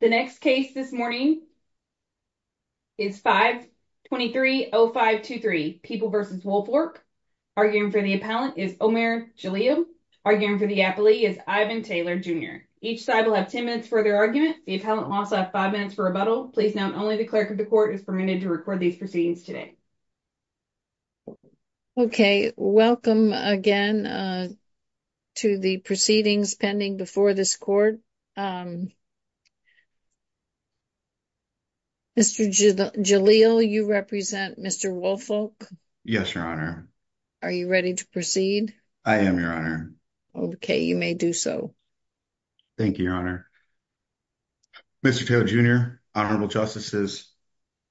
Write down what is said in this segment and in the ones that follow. The next case this morning is 5-230523, People v. Woolfolk. Arguing for the appellant is Omer Jaleel. Arguing for the appellee is Ivan Taylor Jr. Each side will have 10 minutes for their argument. The appellant will also have 5 minutes for rebuttal. Please note only the clerk of the court is permitted to record these proceedings today. Okay, welcome again. To the proceedings pending before this court. Mr. Jaleel, you represent Mr. Woolfolk? Yes, your honor. Are you ready to proceed? I am, your honor. Okay, you may do so. Thank you, your honor. Mr. Taylor Jr., honorable justices.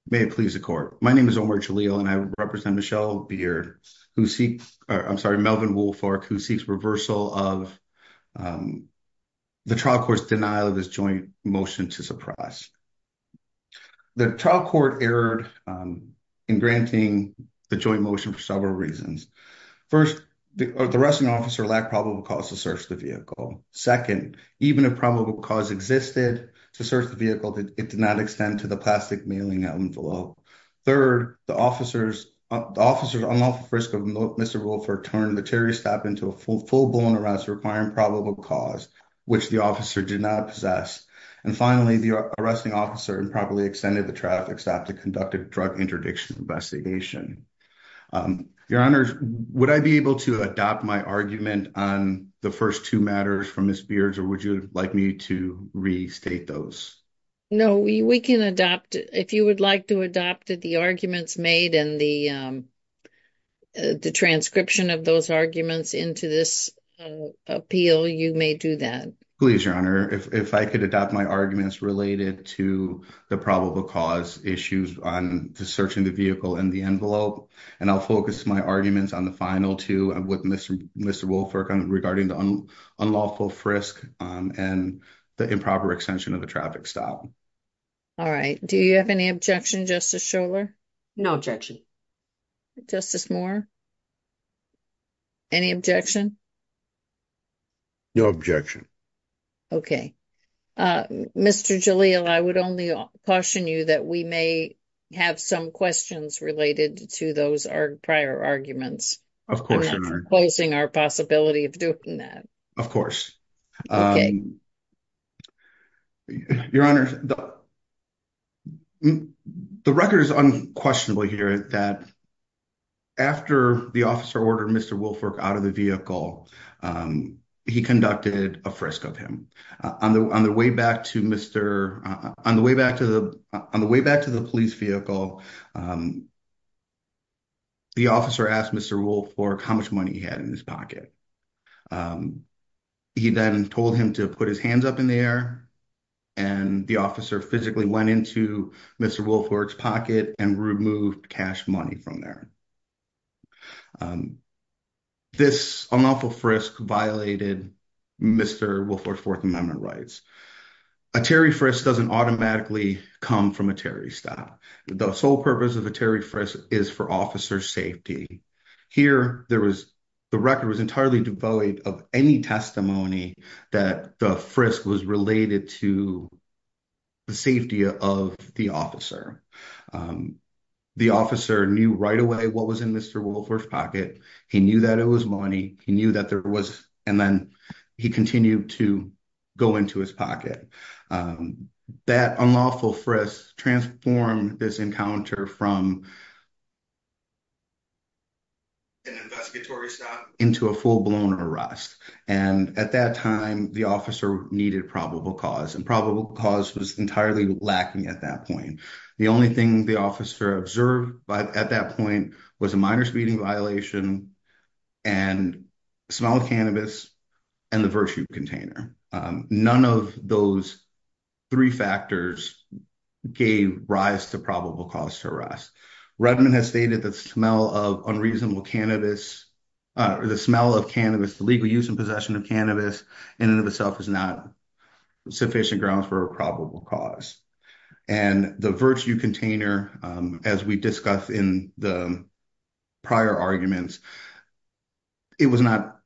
May it please the court. My name is Omer Jaleel and I represent Michelle Beer, who seeks, I'm sorry, Melvin Woolfolk, who seeks reversal of The trial court's denial of this joint motion to suppress. The trial court erred in granting the joint motion for several reasons. 1st, the arresting officer lacked probable cause to search the vehicle. 2nd, even if probable cause existed to search the vehicle, it did not extend to the plastic mailing envelope. 3rd, the officer's unlawful frisk of Mr. Woolfolk turned the terry staff into a full-blown arrest, requiring probable cause, which the officer did not possess. And finally, the arresting officer improperly extended the traffic staff to conduct a drug interdiction investigation. Your honors, would I be able to adopt my argument on the 1st, 2 matters from Ms. Beards, or would you like me to restate those? No, we can adopt it. If you would like to adopt the arguments made and the transcription of those arguments into this appeal, you may do that. Please, your honor, if I could adopt my arguments related to the probable cause issues on the searching the vehicle and the envelope, and I'll focus my arguments on the final 2 with Mr. Mr. Woolfolk regarding the unlawful frisk and the improper extension of the traffic staff. All right, do you have any objection justice? No objection justice more. Any objection no objection. Okay, Mr. Jalil, I would only caution you that we may. Have some questions related to those prior arguments. Of course, closing our possibility of doing that. Of course, your honor, the, the record is unquestionably here that. After the officer ordered Mr. Wilford out of the vehicle, he conducted a frisk of him on the, on the way back to Mr. on the way back to the on the way back to the police vehicle. The officer asked Mr. Wolf for how much money he had in his pocket. He then told him to put his hands up in the air. And the officer physically went into Mr. will for its pocket and remove cash money from there. This unlawful frisk violated. Mr. will for 4th amendment rights, a Terry for us doesn't automatically come from a Terry style. The sole purpose of a Terry for us is for officer safety here. There was. The record was entirely devoid of any testimony that the frisk was related to. The safety of the officer. The officer knew right away what was in Mr. will for pocket. He knew that it was money. He knew that there was and then he continued to. Go into his pocket that unlawful for us transform this encounter from. Investigatory into a full blown arrest and at that time, the officer needed probable cause and probable cause was entirely lacking at that point. The only thing the officer observed, but at that point was a minor speeding violation. And small cannabis and the virtue container, none of those. 3 factors gave rise to probable cause to arrest. Redmond has stated that smell of unreasonable cannabis. Uh, the smell of cannabis, the legal use and possession of cannabis in and of itself is not sufficient grounds for a probable cause and the virtue container as we discuss in the. Prior arguments, it was not.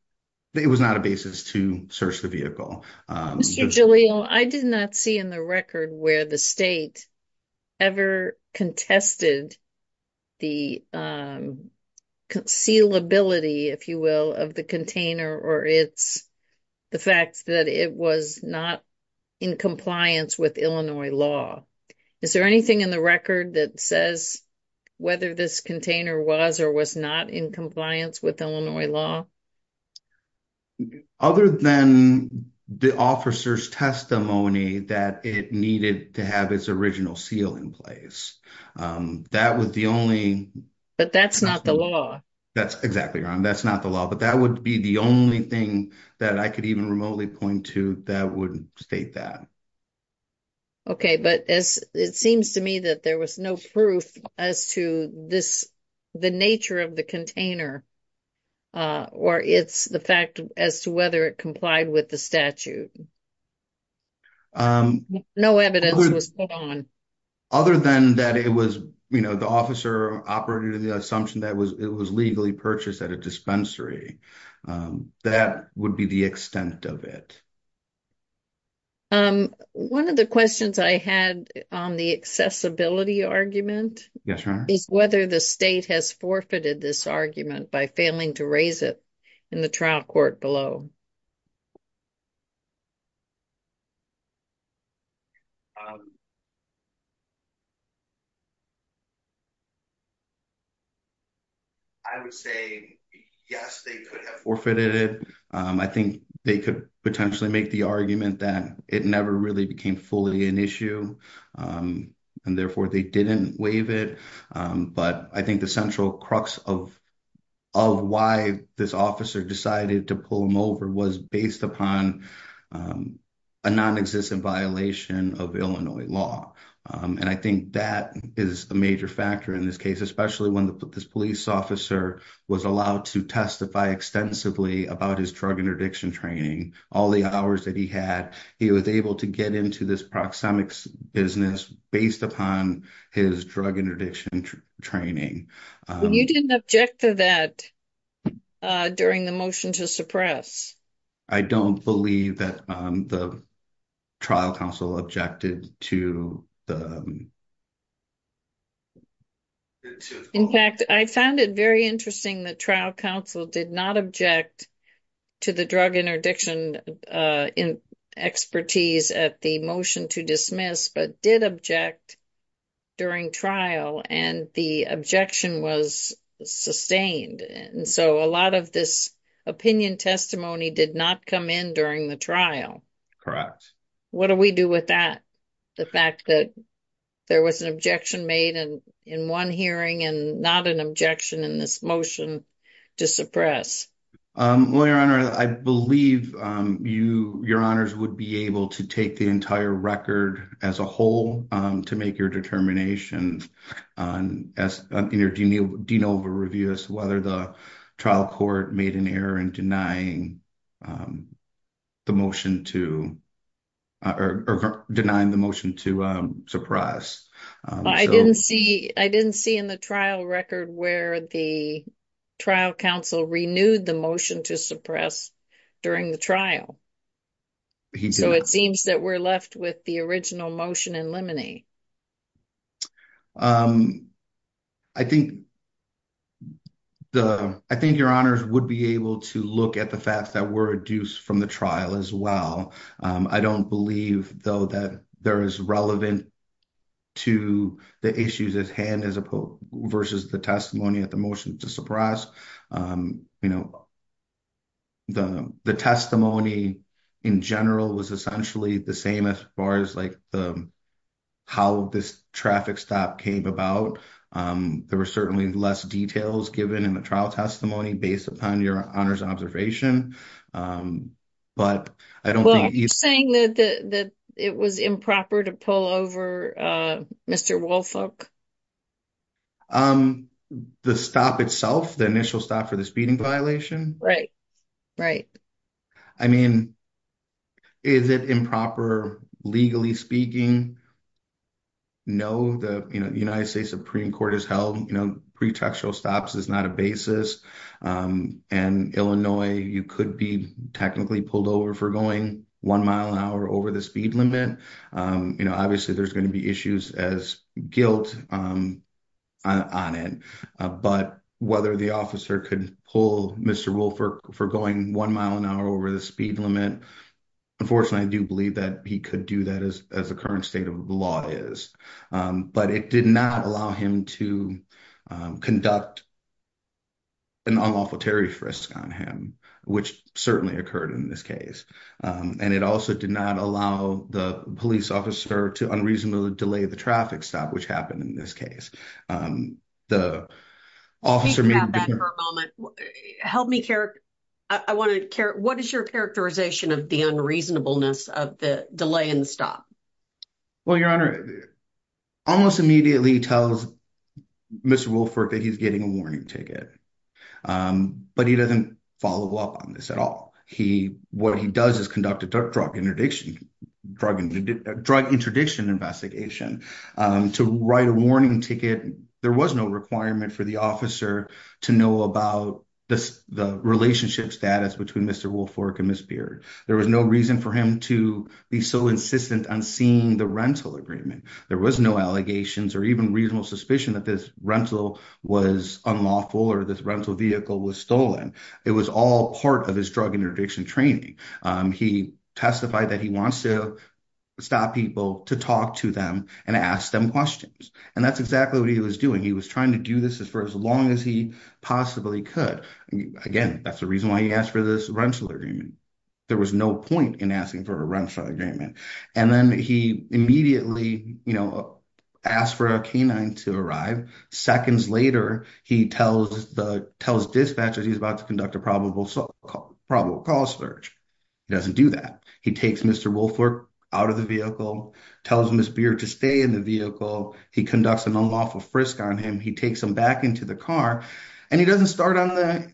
It was not a basis to search the vehicle. I did not see in the record where the state. Ever contested the. Conceal ability, if you will, of the container, or it's. The fact that it was not in compliance with Illinois law. Is there anything in the record that says whether this container was, or was not in compliance with Illinois law. Other than the officer's testimony that it needed to have its original seal in place. That was the only, but that's not the law. That's exactly that's not the law, but that would be the only thing that I could even remotely point to that would state that. Okay, but as it seems to me that there was no proof as to this. The nature of the container, or it's the fact as to whether it complied with the statute. No evidence was put on. Other than that, it was the officer operating the assumption that was, it was legally purchased at a dispensary. That would be the extent of it. 1 of the questions I had on the accessibility argument is whether the state has forfeited this argument by failing to raise it. In the trial court below, I would say, yes, they could have forfeited it. I think they could potentially make the argument that it never really became fully an issue and therefore they didn't waive it. But I think the central crux of of why this officer decided to pull him over was based upon a non existent violation of Illinois law. And I think that is a major factor in this case, especially when this police officer was allowed to testify extensively about his drug interdiction training, all the hours that he had, he was able to get into this proxemics business based upon his drug interdiction training. You didn't object to that during the motion to suppress. I don't believe that the trial counsel objected to the. In fact, I found it very interesting that trial counsel did not object to the drug interdiction expertise at the motion to dismiss, but did object during trial and the objection was sustained. And so a lot of this opinion testimony did not come in during the trial. What do we do with that? The fact that there was an objection made and in 1 hearing and not an objection in this motion to suppress. Um, well, your honor, I believe you, your honors would be able to take the entire record as a whole to make your determination. On as Dean over review as to whether the trial court made an error in denying the motion to or denying the motion to suppress I didn't see I didn't see in the trial record where the trial counsel renewed the motion to suppress during the trial. So, it seems that we're left with the original motion and limine. I think the, I think your honors would be able to look at the facts that were reduced from the trial as well. I don't believe, though, that there is relevant to the issues as hand as opposed versus the testimony at the motion to suppress. Um, you know, the, the testimony in general was essentially the same as far as, like, the, how this traffic stop came about. Um, there were certainly less details given in the trial testimony based upon your honors observation. Um, but I don't think he's saying that the, that it was improper to pull over. Uh, Mr. Wolfock. The stop itself, the initial stop for the speeding violation. Right. Right. I mean, is it improper legally speaking. No, the United States Supreme Court has held pretextual stops is not a basis. Um, and Illinois, you could be technically pulled over for going 1 mile an hour over the speed limit. Um, you know, obviously, there's going to be issues as guilt, um, on it, but whether the officer could pull Mr. Wilford for going 1 mile an hour over the speed limit. Unfortunately, I do believe that he could do that as as the current state of the law is, but it did not allow him to conduct. An awful Terry frisk on him, which certainly occurred in this case, and it also did not allow the police officer to unreasonably delay the traffic stop, which happened in this case. The officer help me care. I want to care what is your characterization of the unreasonableness of the delay and stop. Well, your honor almost immediately tells. Mr. Wilford that he's getting a warning ticket, but he doesn't follow up on this at all. He what he does is conduct a drug interdiction drug drug interdiction investigation to write a warning ticket. There was no requirement for the officer to know about the relationship status between Mr. Wilford and Miss beard. There was no reason for him to be so insistent on seeing the rental agreement. There was no allegations or even reasonable suspicion that this rental was unlawful or this rental vehicle was stolen. It was all part of his drug interdiction training. He testified that he wants to. Stop people to talk to them and ask them questions and that's exactly what he was doing. He was trying to do this as for as long as he possibly could again. That's the reason why he asked for this rental agreement. There was no point in asking for a rental agreement and then he immediately. Asked for a canine to arrive seconds later. He tells the tells dispatches he's about to conduct a probable probable cause search. He doesn't do that. He takes Mr. Wilford out of the vehicle tells Miss beer to stay in the vehicle. He conducts an unlawful frisk on him. He takes him back into the car and he doesn't start on the.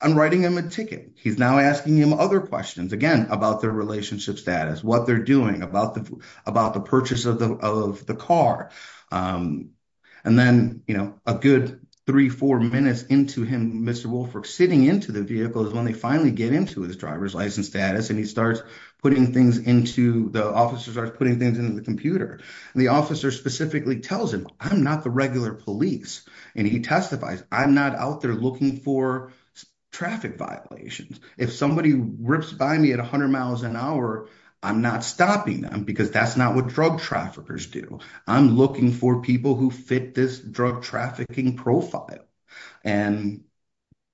I'm writing him a ticket. He's now asking him other questions again about their relationship status. What they're doing about the about the purchase of the of the car. And then, you know, a good 34 minutes into him. Sitting into the vehicle is when they finally get into his driver's license status and he starts putting things into the officers are putting things into the computer. The officer specifically tells him I'm not the regular police and he testifies. I'm not out there looking for traffic violations. If somebody rips by me at 100 miles an hour. I'm not stopping them because that's not what drug traffickers do. I'm looking for people who fit this drug trafficking profile. And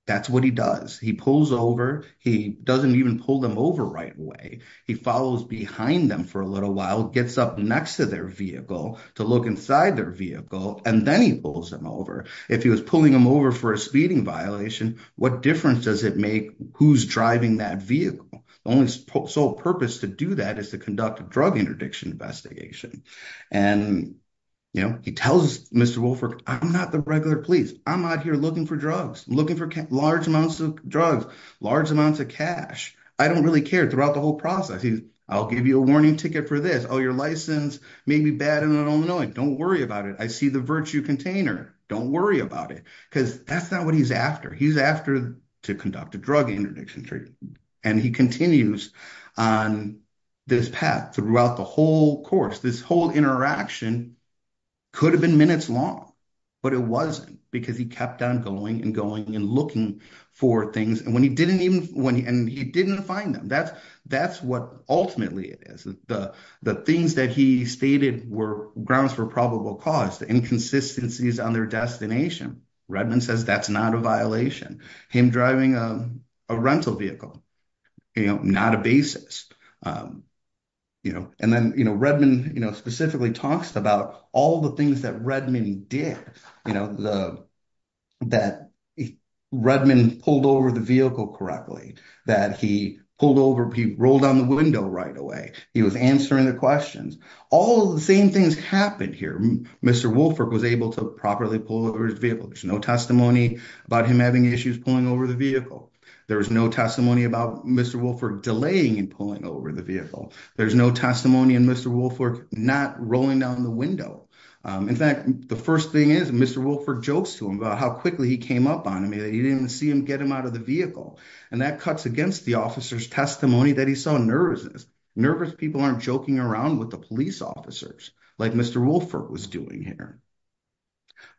that's what he does. He pulls over. He doesn't even pull them over right away. He follows behind them for a little while gets up next to their vehicle to look inside their vehicle and then he pulls them over. If he was pulling them over for a speeding violation. What difference does it make? Who's driving that vehicle? The only sole purpose to do that is to conduct a drug interdiction investigation. And, you know, he tells Mr. Wilford, I'm not the regular police. I'm not here looking for drugs, looking for large amounts of drugs, large amounts of cash. I don't really care throughout the whole process. I'll give you a warning ticket for this. Oh, your license may be bad and I don't know it. Don't worry about it. I see the virtue container. Don't worry about it because that's not what he's after. He's after to conduct a drug interdiction. And he continues on this path throughout the whole course. This whole interaction could have been minutes long, but it wasn't because he kept on going and going and looking for things and when he didn't even when he and he didn't find them, that's that's what ultimately it is. The the things that he stated were grounds for probable cause the inconsistencies on their destination. Redmond says that's not a violation. Him driving a rental vehicle, you know, not a basis, you know, and then, you know, Redmond, you know, specifically talks about all the things that Redmond did, you know, the that Redmond pulled over the vehicle correctly that he pulled over. He rolled down the window right away. He was answering the questions. All the same things happened here. Mr. Wilford was able to properly pull over his vehicle. No testimony about him having issues pulling over the vehicle. There was no testimony about Mr. Wilford delaying and pulling over the vehicle. There's no testimony and Mr. Wilford not rolling down the window. In fact, the first thing is Mr. Wilford jokes to him about how quickly he came up on me that he didn't see him get him out of the vehicle. And that cuts against the officer's testimony that he saw nervous, nervous people aren't joking around with the police officers like Mr. Wilford was doing here.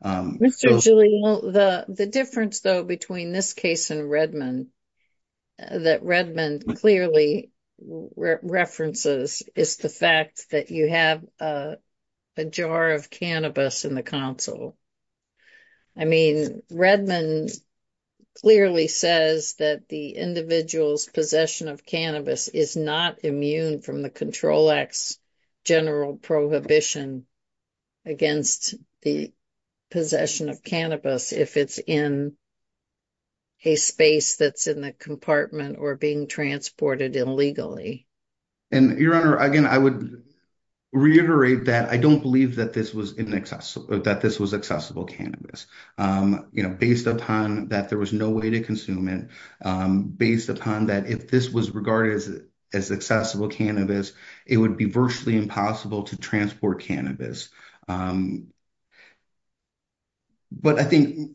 Um, the difference, though, between this case and Redmond that Redmond clearly references is the fact that you have a jar of cannabis in the council. I mean, Redmond clearly says that the individual's possession of cannabis is not immune from the Control Act's general prohibition against the possession of cannabis if it's in a space that's in the compartment or being transported illegally. And Your Honor, again, I would reiterate that I don't believe that this was inaccessible, that this was accessible cannabis, um, you know, based upon that there was no way to um, based upon that if this was regarded as accessible cannabis, it would be virtually impossible to transport cannabis. But I think.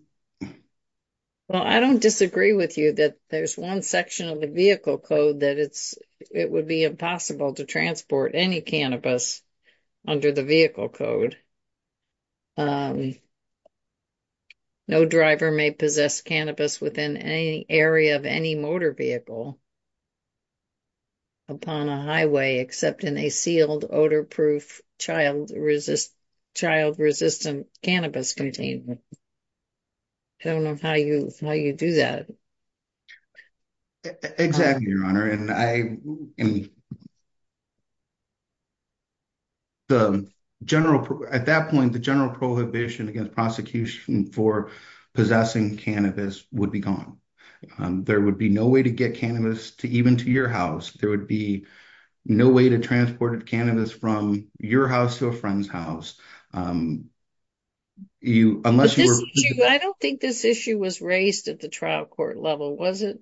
Well, I don't disagree with you that there's 1 section of the vehicle code that it's, it would be impossible to transport any cannabis under the vehicle code. Um, no driver may possess cannabis within any area of any motor vehicle upon a highway except in a sealed, odor-proof, child-resistant, child-resistant cannabis containment. I don't know how you, how you do that. Exactly, Your Honor, and I, and the general, at that point, the general prohibition against prosecution for possessing cannabis would be gone. There would be no way to get cannabis to even to your house. There would be no way to transport cannabis from your house to a friend's house. You, unless you were. I don't think this issue was raised at the trial court level, was it?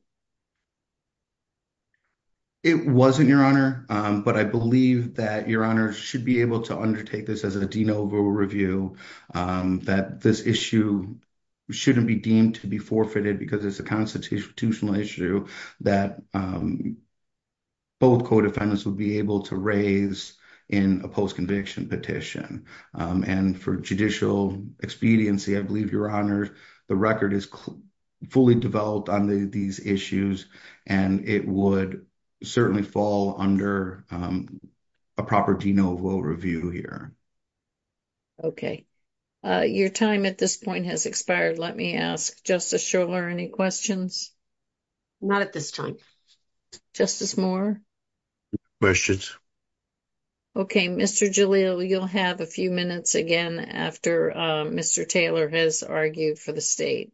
It wasn't, Your Honor, but I believe that Your Honor should be able to undertake this as a de novo review, that this issue shouldn't be deemed to be forfeited because it's a constitutional issue that both co-defendants would be able to raise in a post-conviction petition. And for judicial expediency, I believe, Your Honor, the record is fully developed on these issues, and it would certainly fall under a proper de novo review here. Okay, your time at this point has expired. Let me ask, Justice Shuler, any questions? Not at this time. Justice Moore? Questions. Okay, Mr. Jalil, you'll have a few minutes again after Mr. Taylor has argued for the state.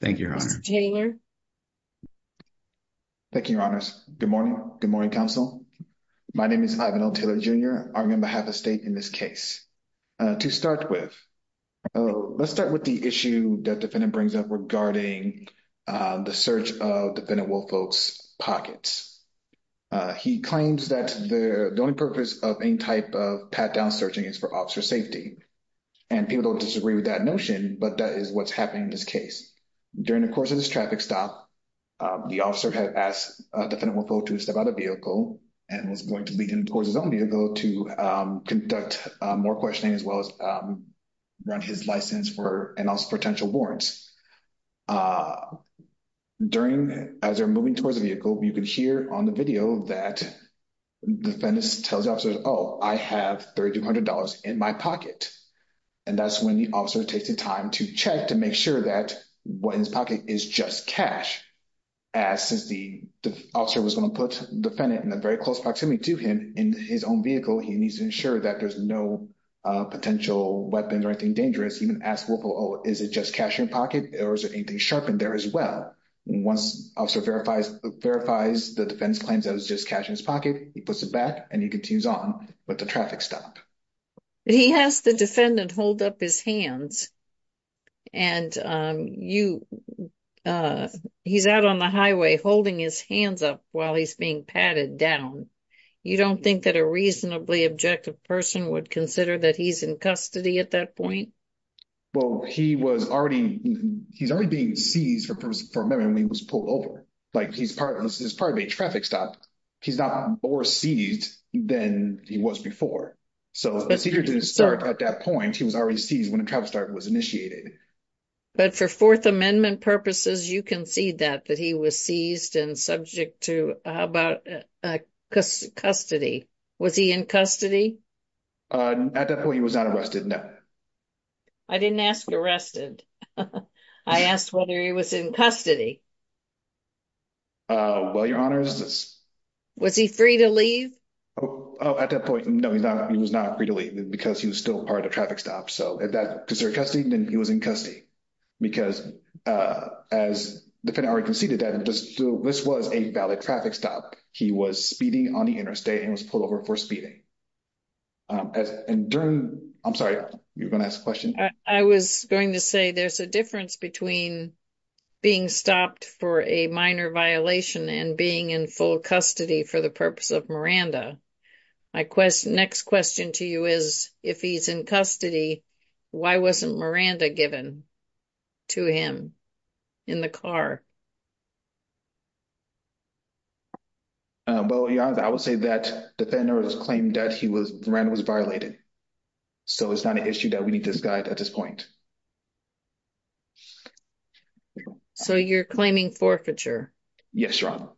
Thank you, Your Honor. Mr. Taylor? Thank you, Your Honors. Good morning. Good morning, counsel. My name is Ivan L. Taylor, Jr. Arguing on behalf of the state in this case. To start with, let's start with the issue that the defendant brings up regarding the search of defendant Woolfolk's pockets. He claims that the only purpose of any type of pat-down searching is for officer safety. And people don't disagree with that notion, but that is what's happening in this case. During the course of this traffic stop, the officer had asked defendant Woolfolk to step out of the vehicle and was going to lead him towards his own vehicle to conduct more questioning as well as run his license for, and also potential warrants. During, as they're moving towards the vehicle, you can hear on the video that defendants tells officers, oh, I have $3,200 in my pocket. And that's when the officer takes the time to check to make sure that what's in his pocket is just cash. As since the officer was going to put defendant in a very close proximity to him in his own vehicle, he needs to ensure that there's no potential weapons or anything dangerous. Even ask Woolfolk, oh, is it just cash in pocket or is there anything sharpened there as well? Once officer verifies the defense claims that it was just cash in his pocket, he puts it back and he continues on with the traffic stop. He has the defendant hold up his hands. And he's out on the highway holding his hands up while he's being patted down. You don't think that a reasonably objective person would consider that he's in custody at that point? Well, he was already, he's already being seized for memory when he was pulled over. Like he's part of a traffic stop. He's not more seized than he was before. So, at that point, he was already seized when the traffic stop was initiated. But for 4th Amendment purposes, you can see that, that he was seized and subject to, how about custody? Was he in custody? At that point, he was not arrested. I didn't ask arrested. I asked whether he was in custody. Well, your honors. Was he free to leave? Oh, at that point, no, he's not. He was not free to leave because he was still part of traffic stop. So, at that, because they're custody, then he was in custody. Because as the defendant already conceded that, this was a valid traffic stop. He was speeding on the interstate and was pulled over for speeding. And during, I'm sorry, you were going to ask a question? I was going to say there's a difference between being stopped for a minor violation and being in full custody for the purpose of Miranda. Next question to you is, if he's in custody, why wasn't Miranda given to him in the car? Well, your honor, I would say that the defendant was claiming that he was, Miranda was violated. So, it's not an issue that we need to guide at this point. So, you're claiming forfeiture? Yes, your honor.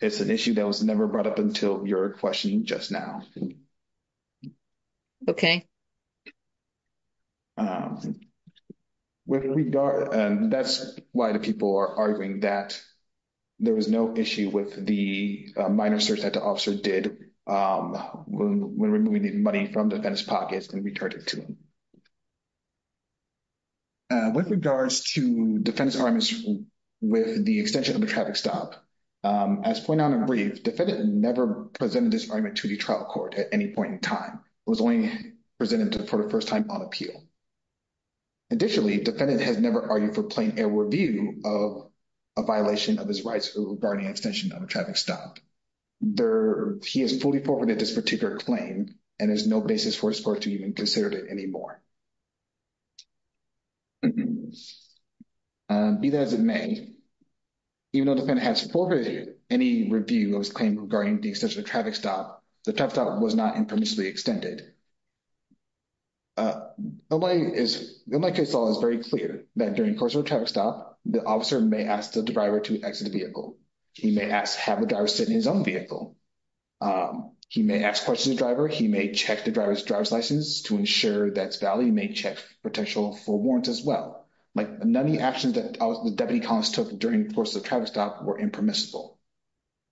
It's an issue that was never brought up until your question just now. Okay. That's why the people are arguing that there was no issue with the minor search that the officer did when removing the money from the defendant's pocket and returned it to him. With regards to defendant's arguments with the extension of the traffic stop, as pointed out in brief, the defendant never presented this argument to the trial court at any point in time. It was only presented for the first time on appeal. Additionally, the defendant has never argued for plain air review of a violation of his rights regarding extension of a traffic stop. He has fully forfeited this particular claim, and there's no basis for his court to even consider it anymore. Be that as it may, even though the defendant has forfeited any review of his claim regarding the extension of the traffic stop, the traffic stop was not impermissibly extended. In my case law, it's very clear that during the course of a traffic stop, the officer may ask the driver to exit the vehicle. He may ask, have the driver sit in his own vehicle. He may ask questions to the driver. He may check the driver's license to ensure that it's valid. He may check potential for warrants as well. Like, none of the actions that the deputy columnist took during the course of the traffic stop were impermissible.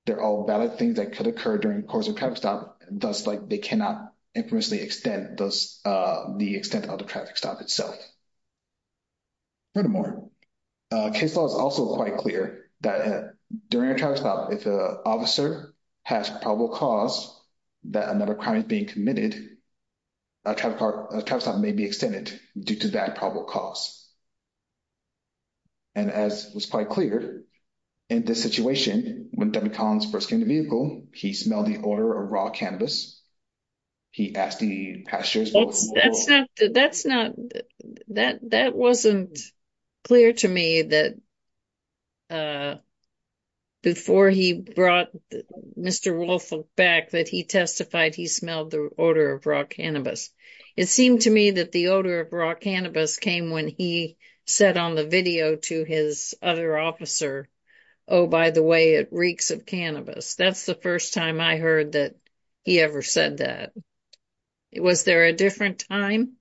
They're all valid things that could occur during the course of a traffic stop, thus they cannot impermissibly extend the extent of the traffic stop itself. Furthermore, case law is also quite clear that during a traffic stop, if an officer has probable cause that another crime is being committed, a traffic stop may be extended due to that probable cause. And as was quite clear in this situation, when Deputy Collins first came to the vehicle, he smelled the odor of raw cannabis. He asked the passengers- That's not, that wasn't clear to me that before he brought Mr. Wolf back, that he testified he smelled the odor of raw cannabis. It seemed to me that the odor of raw cannabis came when he said on the video to his other officer, oh, by the way, it reeks of cannabis. That's the first time I heard that he ever said that. Was there a different time?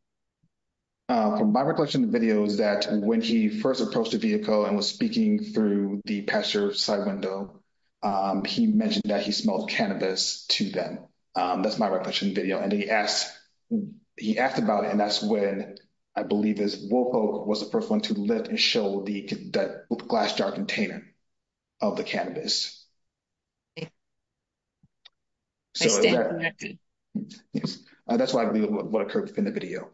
My recollection of the video is that when he first approached the vehicle and was speaking through the passenger side window, he mentioned that he smelled cannabis to them. That's my recollection of the video. He asked about it and that's when I believe it was Wolf Oak was the first one to lift and show the glass jar container of the cannabis. I stand corrected. Yes, that's why I believe what occurred within the video.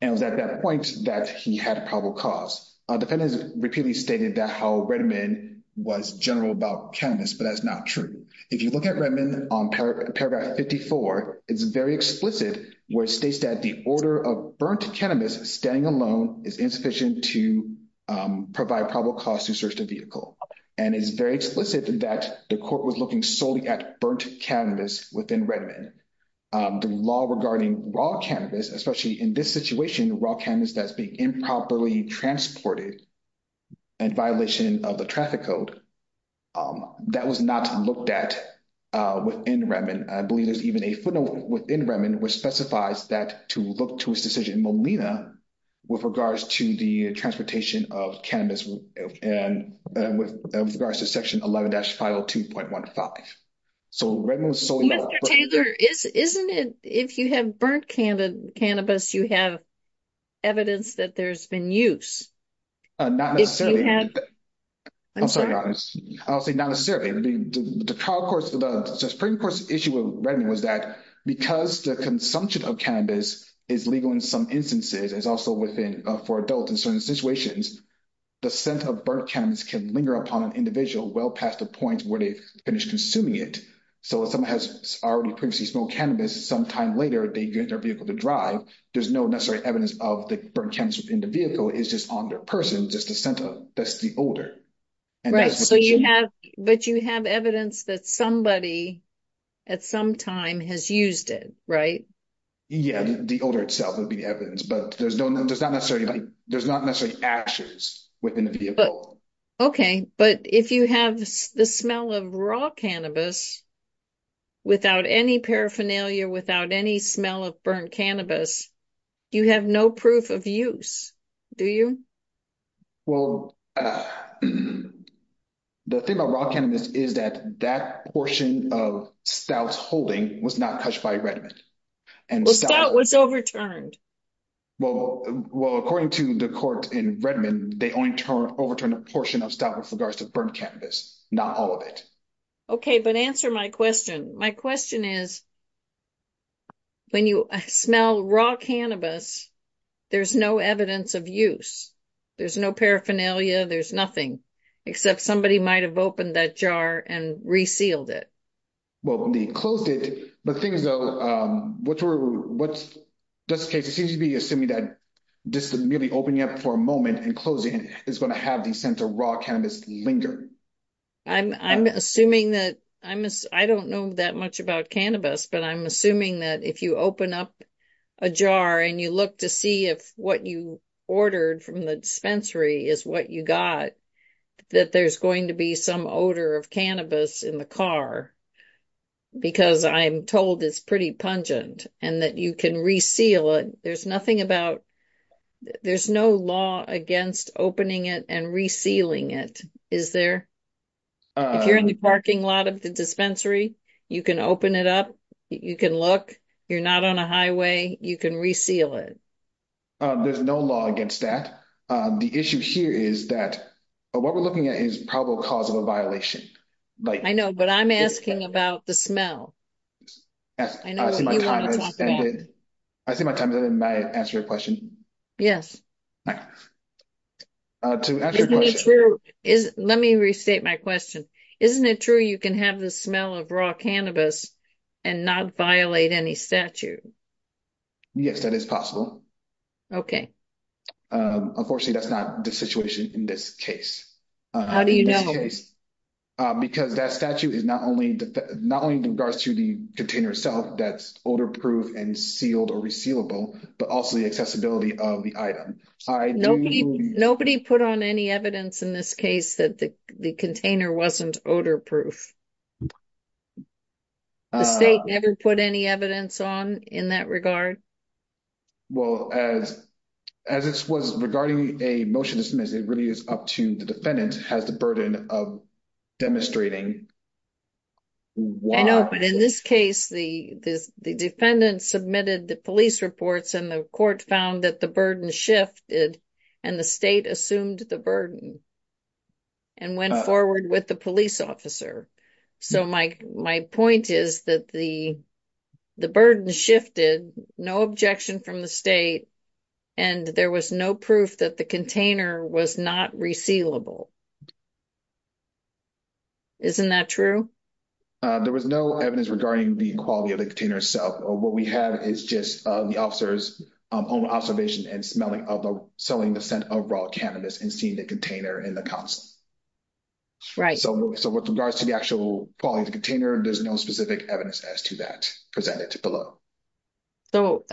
And it was at that point that he had probable cause. A defendant has repeatedly stated that how Redmond was general about cannabis, but that's not true. If you look at Redmond on paragraph 54, it's very explicit where it states that the order of burnt cannabis standing alone is insufficient to provide probable cause to search the vehicle. And it's very explicit that the court was looking solely at burnt cannabis within Redmond. The law regarding raw cannabis, especially in this situation, raw cannabis that's being improperly transported and violation of the traffic code, that was not looked at within Redmond. I believe there's even a footnote within Redmond, which specifies that to look to his decision in Molina with regards to the transportation of cannabis and with regards to section 11-502.15. So Redmond was solely- Mr. Taylor, isn't it if you have burnt cannabis, you have evidence that there's been use? Not necessarily. If you have- I'm sorry, I'll say not necessarily. I mean, the trial court, the Supreme Court's issue with Redmond was that because the consumption of cannabis is legal in some instances, it's also within for adults in certain situations, the scent of burnt cannabis can linger upon an individual well past the point where they've finished consuming it. So if someone has already previously smoked cannabis, sometime later they get their vehicle to drive, there's no necessary evidence of the burnt cannabis within the vehicle, it's just on their person, just the scent of it, that's the odor. Right, so you have- but you have evidence that somebody at some time has used it, right? Yeah, the odor itself would be the evidence, but there's no, there's not necessarily, there's not necessarily ashes within the vehicle. Okay, but if you have the smell of raw cannabis without any paraphernalia, without any smell of burnt cannabis, you have no proof of use, do you? Well, the thing about raw cannabis is that that portion of Stout's holding was not touched by Redmond. Well, Stout was overturned. Well, according to the court in Redmond, they only overturned a portion of Stout with regards to burnt cannabis, not all of it. Okay, but answer my question. My question is, when you smell raw cannabis, there's no evidence of use. There's no paraphernalia, there's nothing, except somebody might have opened that jar and resealed it. Well, they closed it, but things though, what's, just in case it seems to be assuming that just merely opening up for a moment and closing it is going to have the sense of raw cannabis linger. I'm assuming that I'm, I don't know that much about cannabis, but I'm assuming that if you open up a jar and you look to see if what you ordered from the dispensary is what you got, that there's going to be some odor of cannabis in the car. Because I'm told it's pretty pungent and that you can reseal it. There's nothing about, there's no law against opening it and resealing it, is there? If you're in the parking lot of the dispensary, you can open it up, you can look, you're not on a highway, you can reseal it. There's no law against that. The issue here is that what we're looking at is probable cause of a violation. I know, but I'm asking about the smell. I know what you want to talk about. I see my time has ended, may I answer your question? Yes. Let me restate my question. Isn't it true you can have the smell of raw cannabis and not violate any statute? Yes, that is possible. Okay. Unfortunately, that's not the situation in this case. How do you know? Because that statute is not only in regards to the container itself that's odor-proof and sealed or resealable, but also the accessibility of the item. Nobody put on any evidence in this case that the container wasn't odor-proof. The state never put any evidence on in that regard? Well, as this was regarding a motion to dismiss, it really is up to the defendant, has the burden of demonstrating. I know, but in this case, the defendant submitted the police reports and the court found that the burden shifted and the state assumed the burden and went forward with the police officer. So my point is that the burden shifted, no objection from the state, and there was no proof that the container was not resealable. Okay. Isn't that true? There was no evidence regarding the quality of the container itself. What we have is just the officer's own observation and smelling of selling the scent of raw cannabis and seeing the container in the console. Right. So with regards to the actual quality of the container, there's no specific evidence as to that presented below. So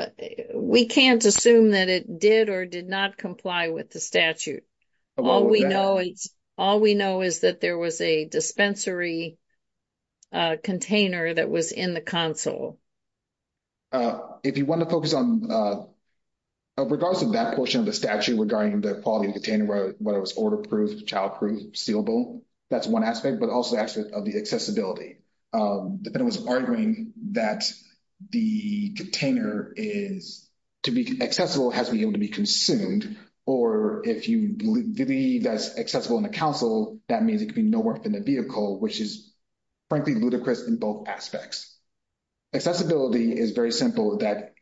we can't assume that it did or did not comply with the statute. All we know is that there was a dispensary container that was in the console. If you want to focus on, of regards to that portion of the statute regarding the quality of the container, whether it was order-proof, child-proof, sealable, that's one aspect, but also the aspect of the accessibility. The defendant was arguing that the container is, to be accessible, has to be able to be consumed, or if you believe that's accessible in the console, that means it can be nowhere within the vehicle, which is frankly ludicrous in both aspects. Accessibility is very simple. That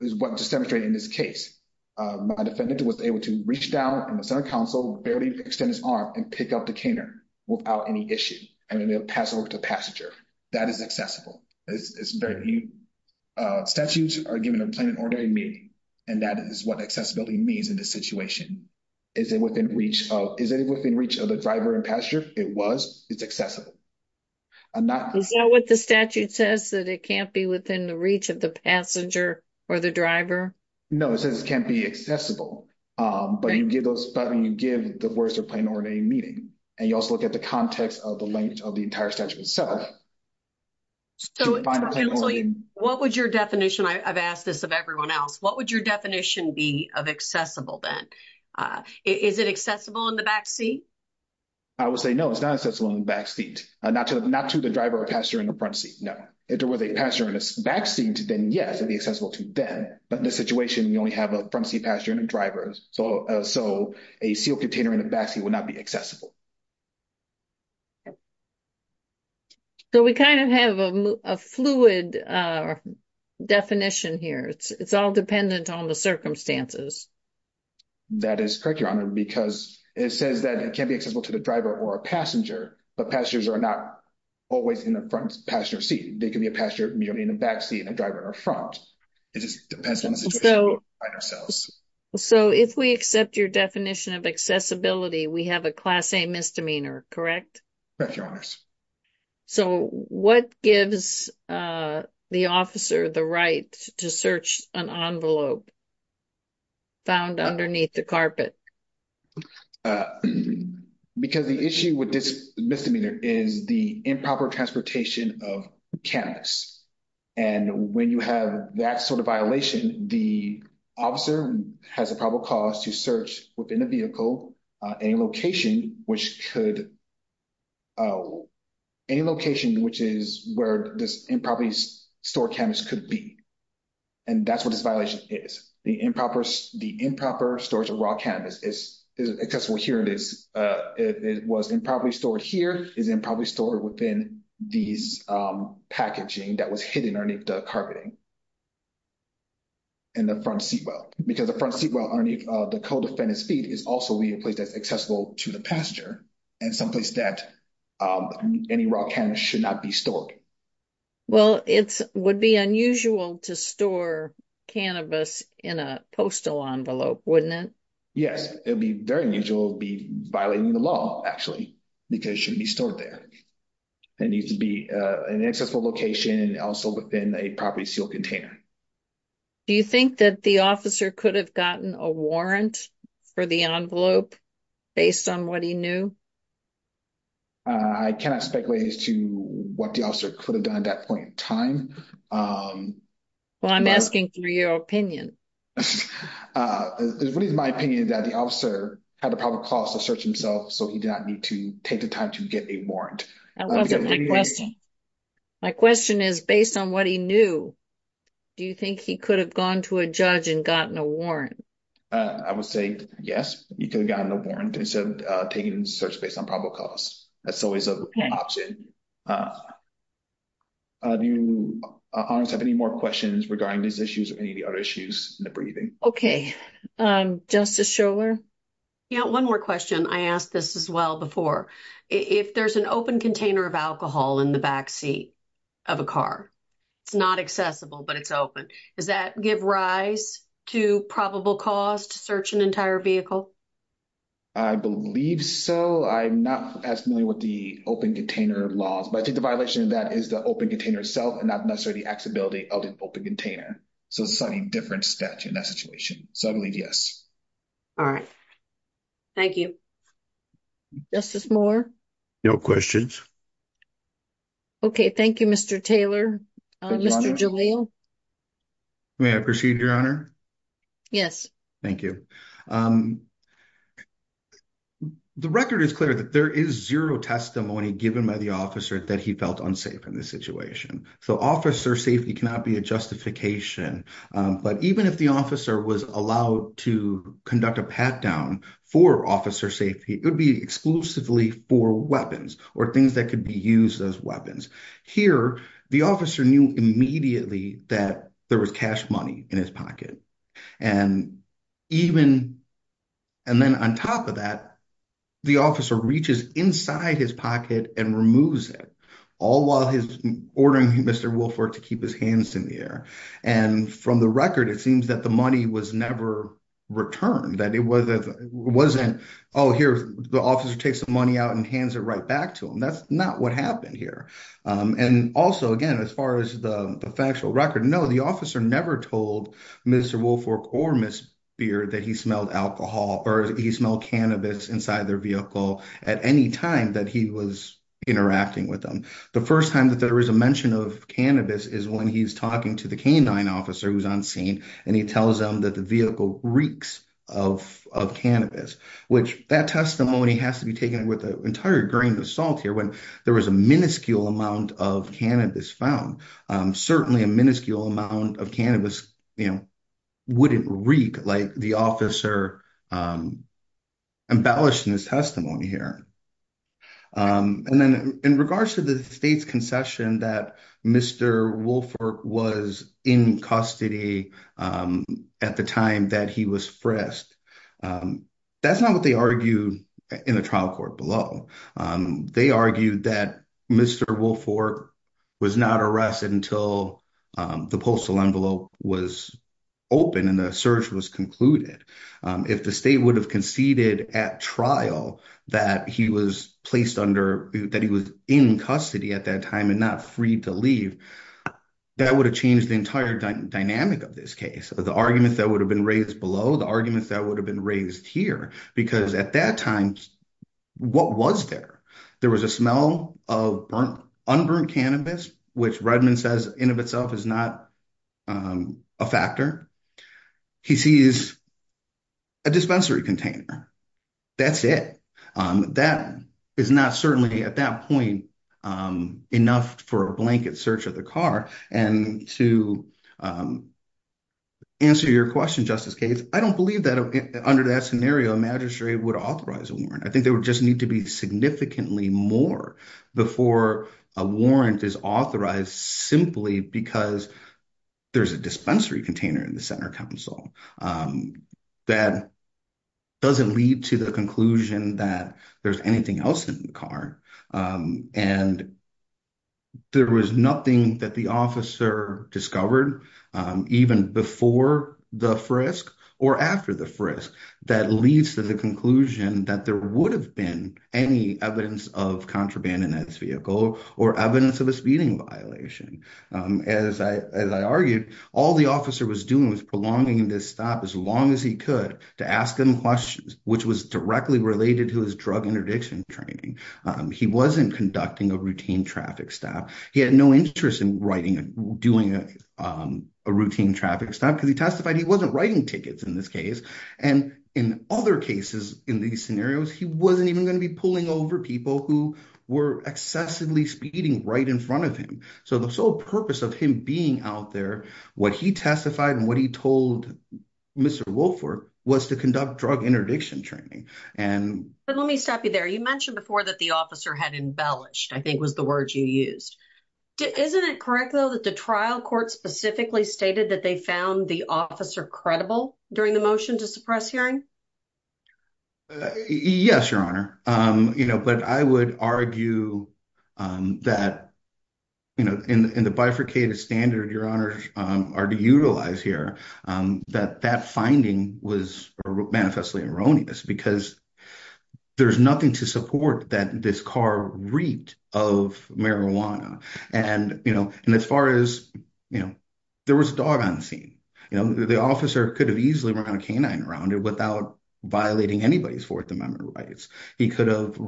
is what just demonstrated in this case. My defendant was able to reach down in the center console, barely extend his arm and pick up the container without any issue. And then they'll pass over to the passenger. That is accessible. It's very neat. Statutes are given in plain and ordinary meaning. And that is what accessibility means in this situation. Is it within reach of the driver and passenger? It was. It's accessible. I'm not- Is that what the statute says, that it can't be within the reach of the passenger or the driver? No, it says it can't be accessible. But you give the words in plain and ordinary meaning. And you also look at the context of the language of the entire statute itself. So what would your definition, I've asked this of everyone else, what would your definition be of accessible then? Is it accessible in the back seat? I would say no, it's not accessible in the back seat. Not to the driver or passenger in the front seat. No. If there was a passenger in the back seat, then yes, it'd be accessible to them. But in this situation, we only have a front seat passenger and a driver. So a sealed container in the back seat would not be accessible. So we kind of have a fluid definition here. It's all dependent on the circumstances. That is correct, Your Honor, because it says that it can't be accessible to the driver or a passenger, but passengers are not always in the front passenger seat. They can be a passenger in the back seat and a driver in the front. It just depends on the situation we find ourselves. So if we accept your definition of accessibility, we have a class A misdemeanor, correct? Correct, Your Honors. So what gives the officer the right to search an envelope found underneath the carpet? Because the issue with this misdemeanor is the improper transportation of canvas. And when you have that sort of violation, the officer has a probable cause to search within a vehicle, any location which is where this improperly stored canvas could be. And that's what this violation is. The improper storage of raw canvas is accessible here. It was improperly stored here, is improperly stored within these packaging that was hidden underneath the carpeting in the front seat well. Because the front seat well underneath the co-defendant's feet is also a place that's accessible to the passenger and someplace that any raw canvas should not be stored. Well, it would be unusual to store cannabis in a postal envelope, wouldn't it? Yes, it would be very unusual to be violating the law actually, because it shouldn't be stored there. It needs to be an accessible location and also within a properly sealed container. Do you think that the officer could have gotten a warrant for the envelope based on what he knew? I cannot speculate as to what the officer could have done at that point in time. Well, I'm asking for your opinion. It's really my opinion that the officer had a probable cause to search himself so he did not need to take the time to get a warrant. My question is based on what he knew, do you think he could have gone to a judge and gotten a warrant? I would say yes, he could have gotten a warrant instead of taking a search based on probable cause. That's always an option. Do you have any more questions regarding these issues or any of the other issues in the briefing? Okay, Justice Schorler? Yeah, one more question. I asked this as well before. If there's an open container of alcohol in the backseat of a car, it's not accessible, but it's open. Does that give rise to probable cause to search an entire vehicle? I believe so. I'm not as familiar with the open container laws, but I think the violation of that is the open container itself and not necessarily the accessibility of the open container. So it's a slightly different statute in that situation. So I believe yes. All right, thank you. Justice Moore? No questions. Okay, thank you, Mr. Taylor. Mr. Jalil? May I proceed, Your Honor? Yes. Thank you. The record is clear that there is zero testimony given by the officer that he felt unsafe in this situation. So officer safety cannot be a justification. But even if the officer was allowed to conduct a pat-down for officer safety, it would be exclusively for weapons or things that could be used as weapons. Here, the officer knew immediately that there was cash money in his pocket. And then on top of that, the officer reaches inside his pocket and removes it, all while ordering Mr. Woolfolk to keep his hands in the air. And from the record, it seems that the money was never returned. Oh, here, the officer takes the money out and hands it right back to him. That's not what happened here. And also, again, as far as the factual record, no, the officer never told Mr. Woolfolk or Ms. Beard that he smelled alcohol or he smelled cannabis inside their vehicle at any time that he was interacting with them. The first time that there is a mention of cannabis is when he's talking to the canine officer who's on scene and he tells them that the vehicle reeks of cannabis, which that testimony has to be taken with an entire grain of salt here when there was a minuscule amount of cannabis found. Certainly a minuscule amount of cannabis wouldn't reek like the officer embellished in his testimony here. And then in regards to the state's concession that Mr. Woolfolk was in custody at the time that he was frisked, that's not what they argued in the trial court below. They argued that Mr. Woolfolk was not arrested until the postal envelope was open and the search was concluded. If the state would have conceded at trial that he was placed under, that he was in custody at that time and not free to leave, that would have changed the entire dynamic of this case. The argument that would have been raised below, the argument that would have been raised here, because at that time, what was there? There was a smell of unburned cannabis, which Redmond says in of itself is not a factor. He sees a dispensary container. That's it. That is not certainly at that point enough for a blanket search of the car. And to answer your question, Justice Cates, I don't believe that under that scenario, a magistrate would authorize a warrant. I think there would just need to be significantly more before a warrant is authorized simply because there's a dispensary container in the center council that doesn't lead to the conclusion that there's anything else in the car. And there was nothing that the officer discovered even before the frisk or after the frisk that leads to the conclusion that there would have been any evidence of contraband in this vehicle or evidence of a speeding violation. As I argued, all the officer was doing was prolonging this stop as long as he could to ask them questions, which was directly related to his drug interdiction training. He wasn't conducting a routine traffic stop. He had no interest in writing, doing a routine traffic stop because he testified he wasn't writing tickets in this case. And in other cases, in these scenarios, he wasn't even going to be pulling over people who were excessively speeding right in front of him. So the sole purpose of him being out there, what he testified and what he told Mr. Wofford was to conduct drug interdiction training. And- But let me stop you there. You mentioned before that the officer had embellished, I think was the word you used. Isn't it correct though, that the trial court specifically stated that they found the officer credible during the motion to suppress hearing? Yes, Your Honor. But I would argue that in the bifurcated standard, Your Honor, are to utilize here, that that finding was manifestly erroneous because there's nothing to support that this car reaped of marijuana. And as far as, there was a dog on the scene. The officer could have easily run a canine around it without violating anybody's Fourth Amendment rights. He could have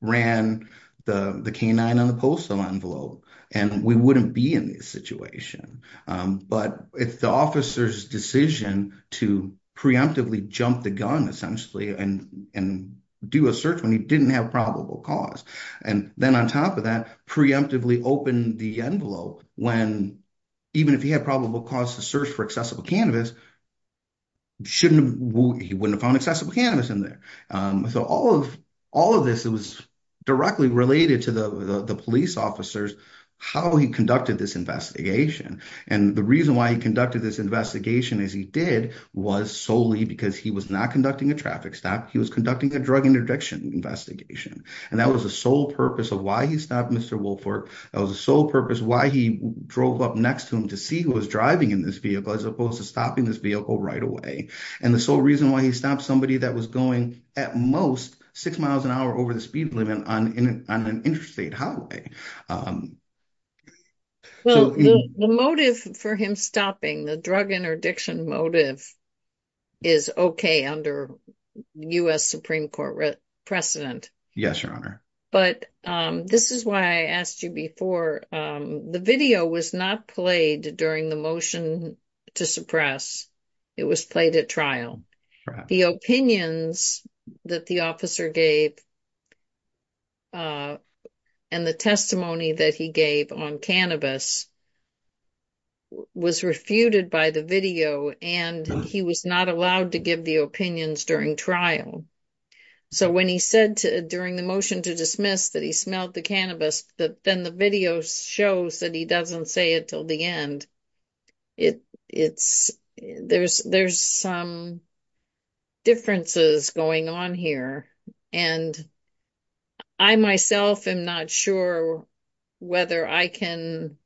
ran the canine on the postal envelope and we wouldn't be in this situation. But it's the officer's decision to preemptively jump the gun essentially and do a search when he didn't have probable cause. And then on top of that, preemptively open the envelope when even if he had probable cause to search for accessible cannabis, he wouldn't have found accessible cannabis in there. So all of this, it was directly related to the police officers, how he conducted this investigation. And the reason why he conducted this investigation as he did was solely because he was not conducting a traffic stop. He was conducting a drug interdiction investigation. And that was the sole purpose of why he stopped Mr. Woolford. That was the sole purpose why he drove up next to him to see who was driving in this vehicle as opposed to stopping this vehicle right away. And the sole reason why he stopped somebody that was going at most six miles an hour over the speed limit on an interstate highway. Well, the motive for him stopping, the drug interdiction motive is okay under U.S. Supreme Court precedent. Yes, Your Honor. But this is why I asked you before, the video was not played during the motion to suppress. It was played at trial. The opinions that the officer gave and the testimony that he gave on cannabis was refuted by the video and he was not allowed to give the opinions during trial. So when he said during the motion to dismiss that he smelled the cannabis, but then the video shows that he doesn't say it till the end. There's some differences going on here. And I myself am not sure whether I can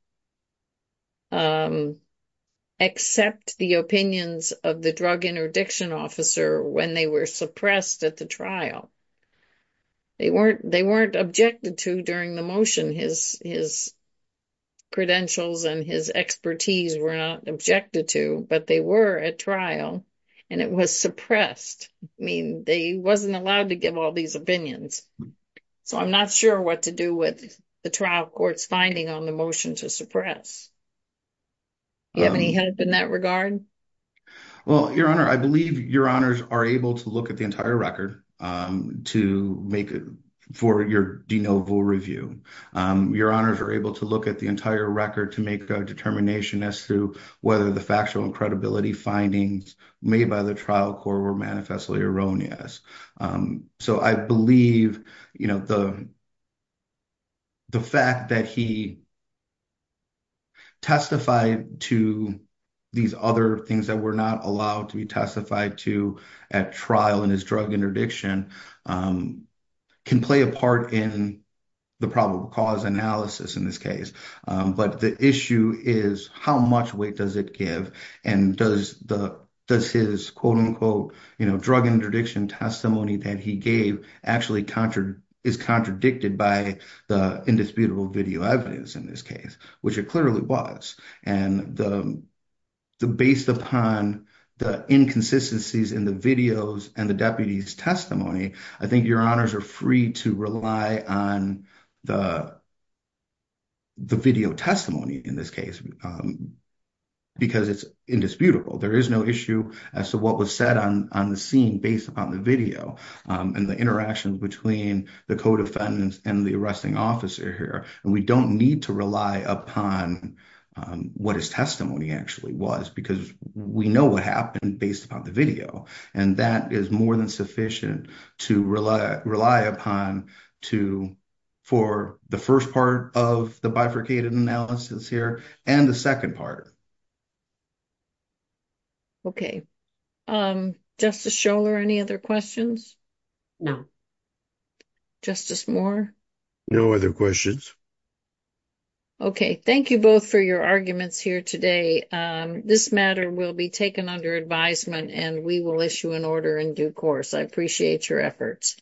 accept the opinions of the drug interdiction officer when they were suppressed at the trial. They weren't objected to during the motion. His credentials and his expertise were not objected to, but they were at trial and it was suppressed. I mean, they wasn't allowed to give all these opinions. So I'm not sure what to do with the trial court's finding on the motion to suppress. Do you have any help in that regard? Well, Your Honor, I believe Your Honors are able to look at the entire record. To make it for your de novo review, Your Honors are able to look at the entire record to make a determination as to whether the factual and credibility findings made by the trial court were manifestly erroneous. So I believe the fact that he testified to these other things that were not allowed to be testified to at trial in his drug interdiction, can play a part in the probable cause analysis in this case. But the issue is how much weight does it give and does his quote unquote drug interdiction testimony that he gave actually is contradicted by the indisputable video evidence in this case, which it clearly was. And based upon the inconsistencies in the videos and the deputy's testimony, I think Your Honors are free to rely on the video testimony in this case because it's indisputable. There is no issue as to what was said on the scene based upon the video and the interactions between the co-defendants and the arresting officer here. And we don't need to rely upon what his testimony actually was because we know what happened based upon the video. And that is more than sufficient to rely upon for the first part of the bifurcated analysis here and the second part. Okay. Justice Scholar, any other questions? No. Justice Moore? No other questions. Okay. Thank you both for your arguments here today. This matter will be taken under advisement and we will issue an order in due course. I appreciate your efforts.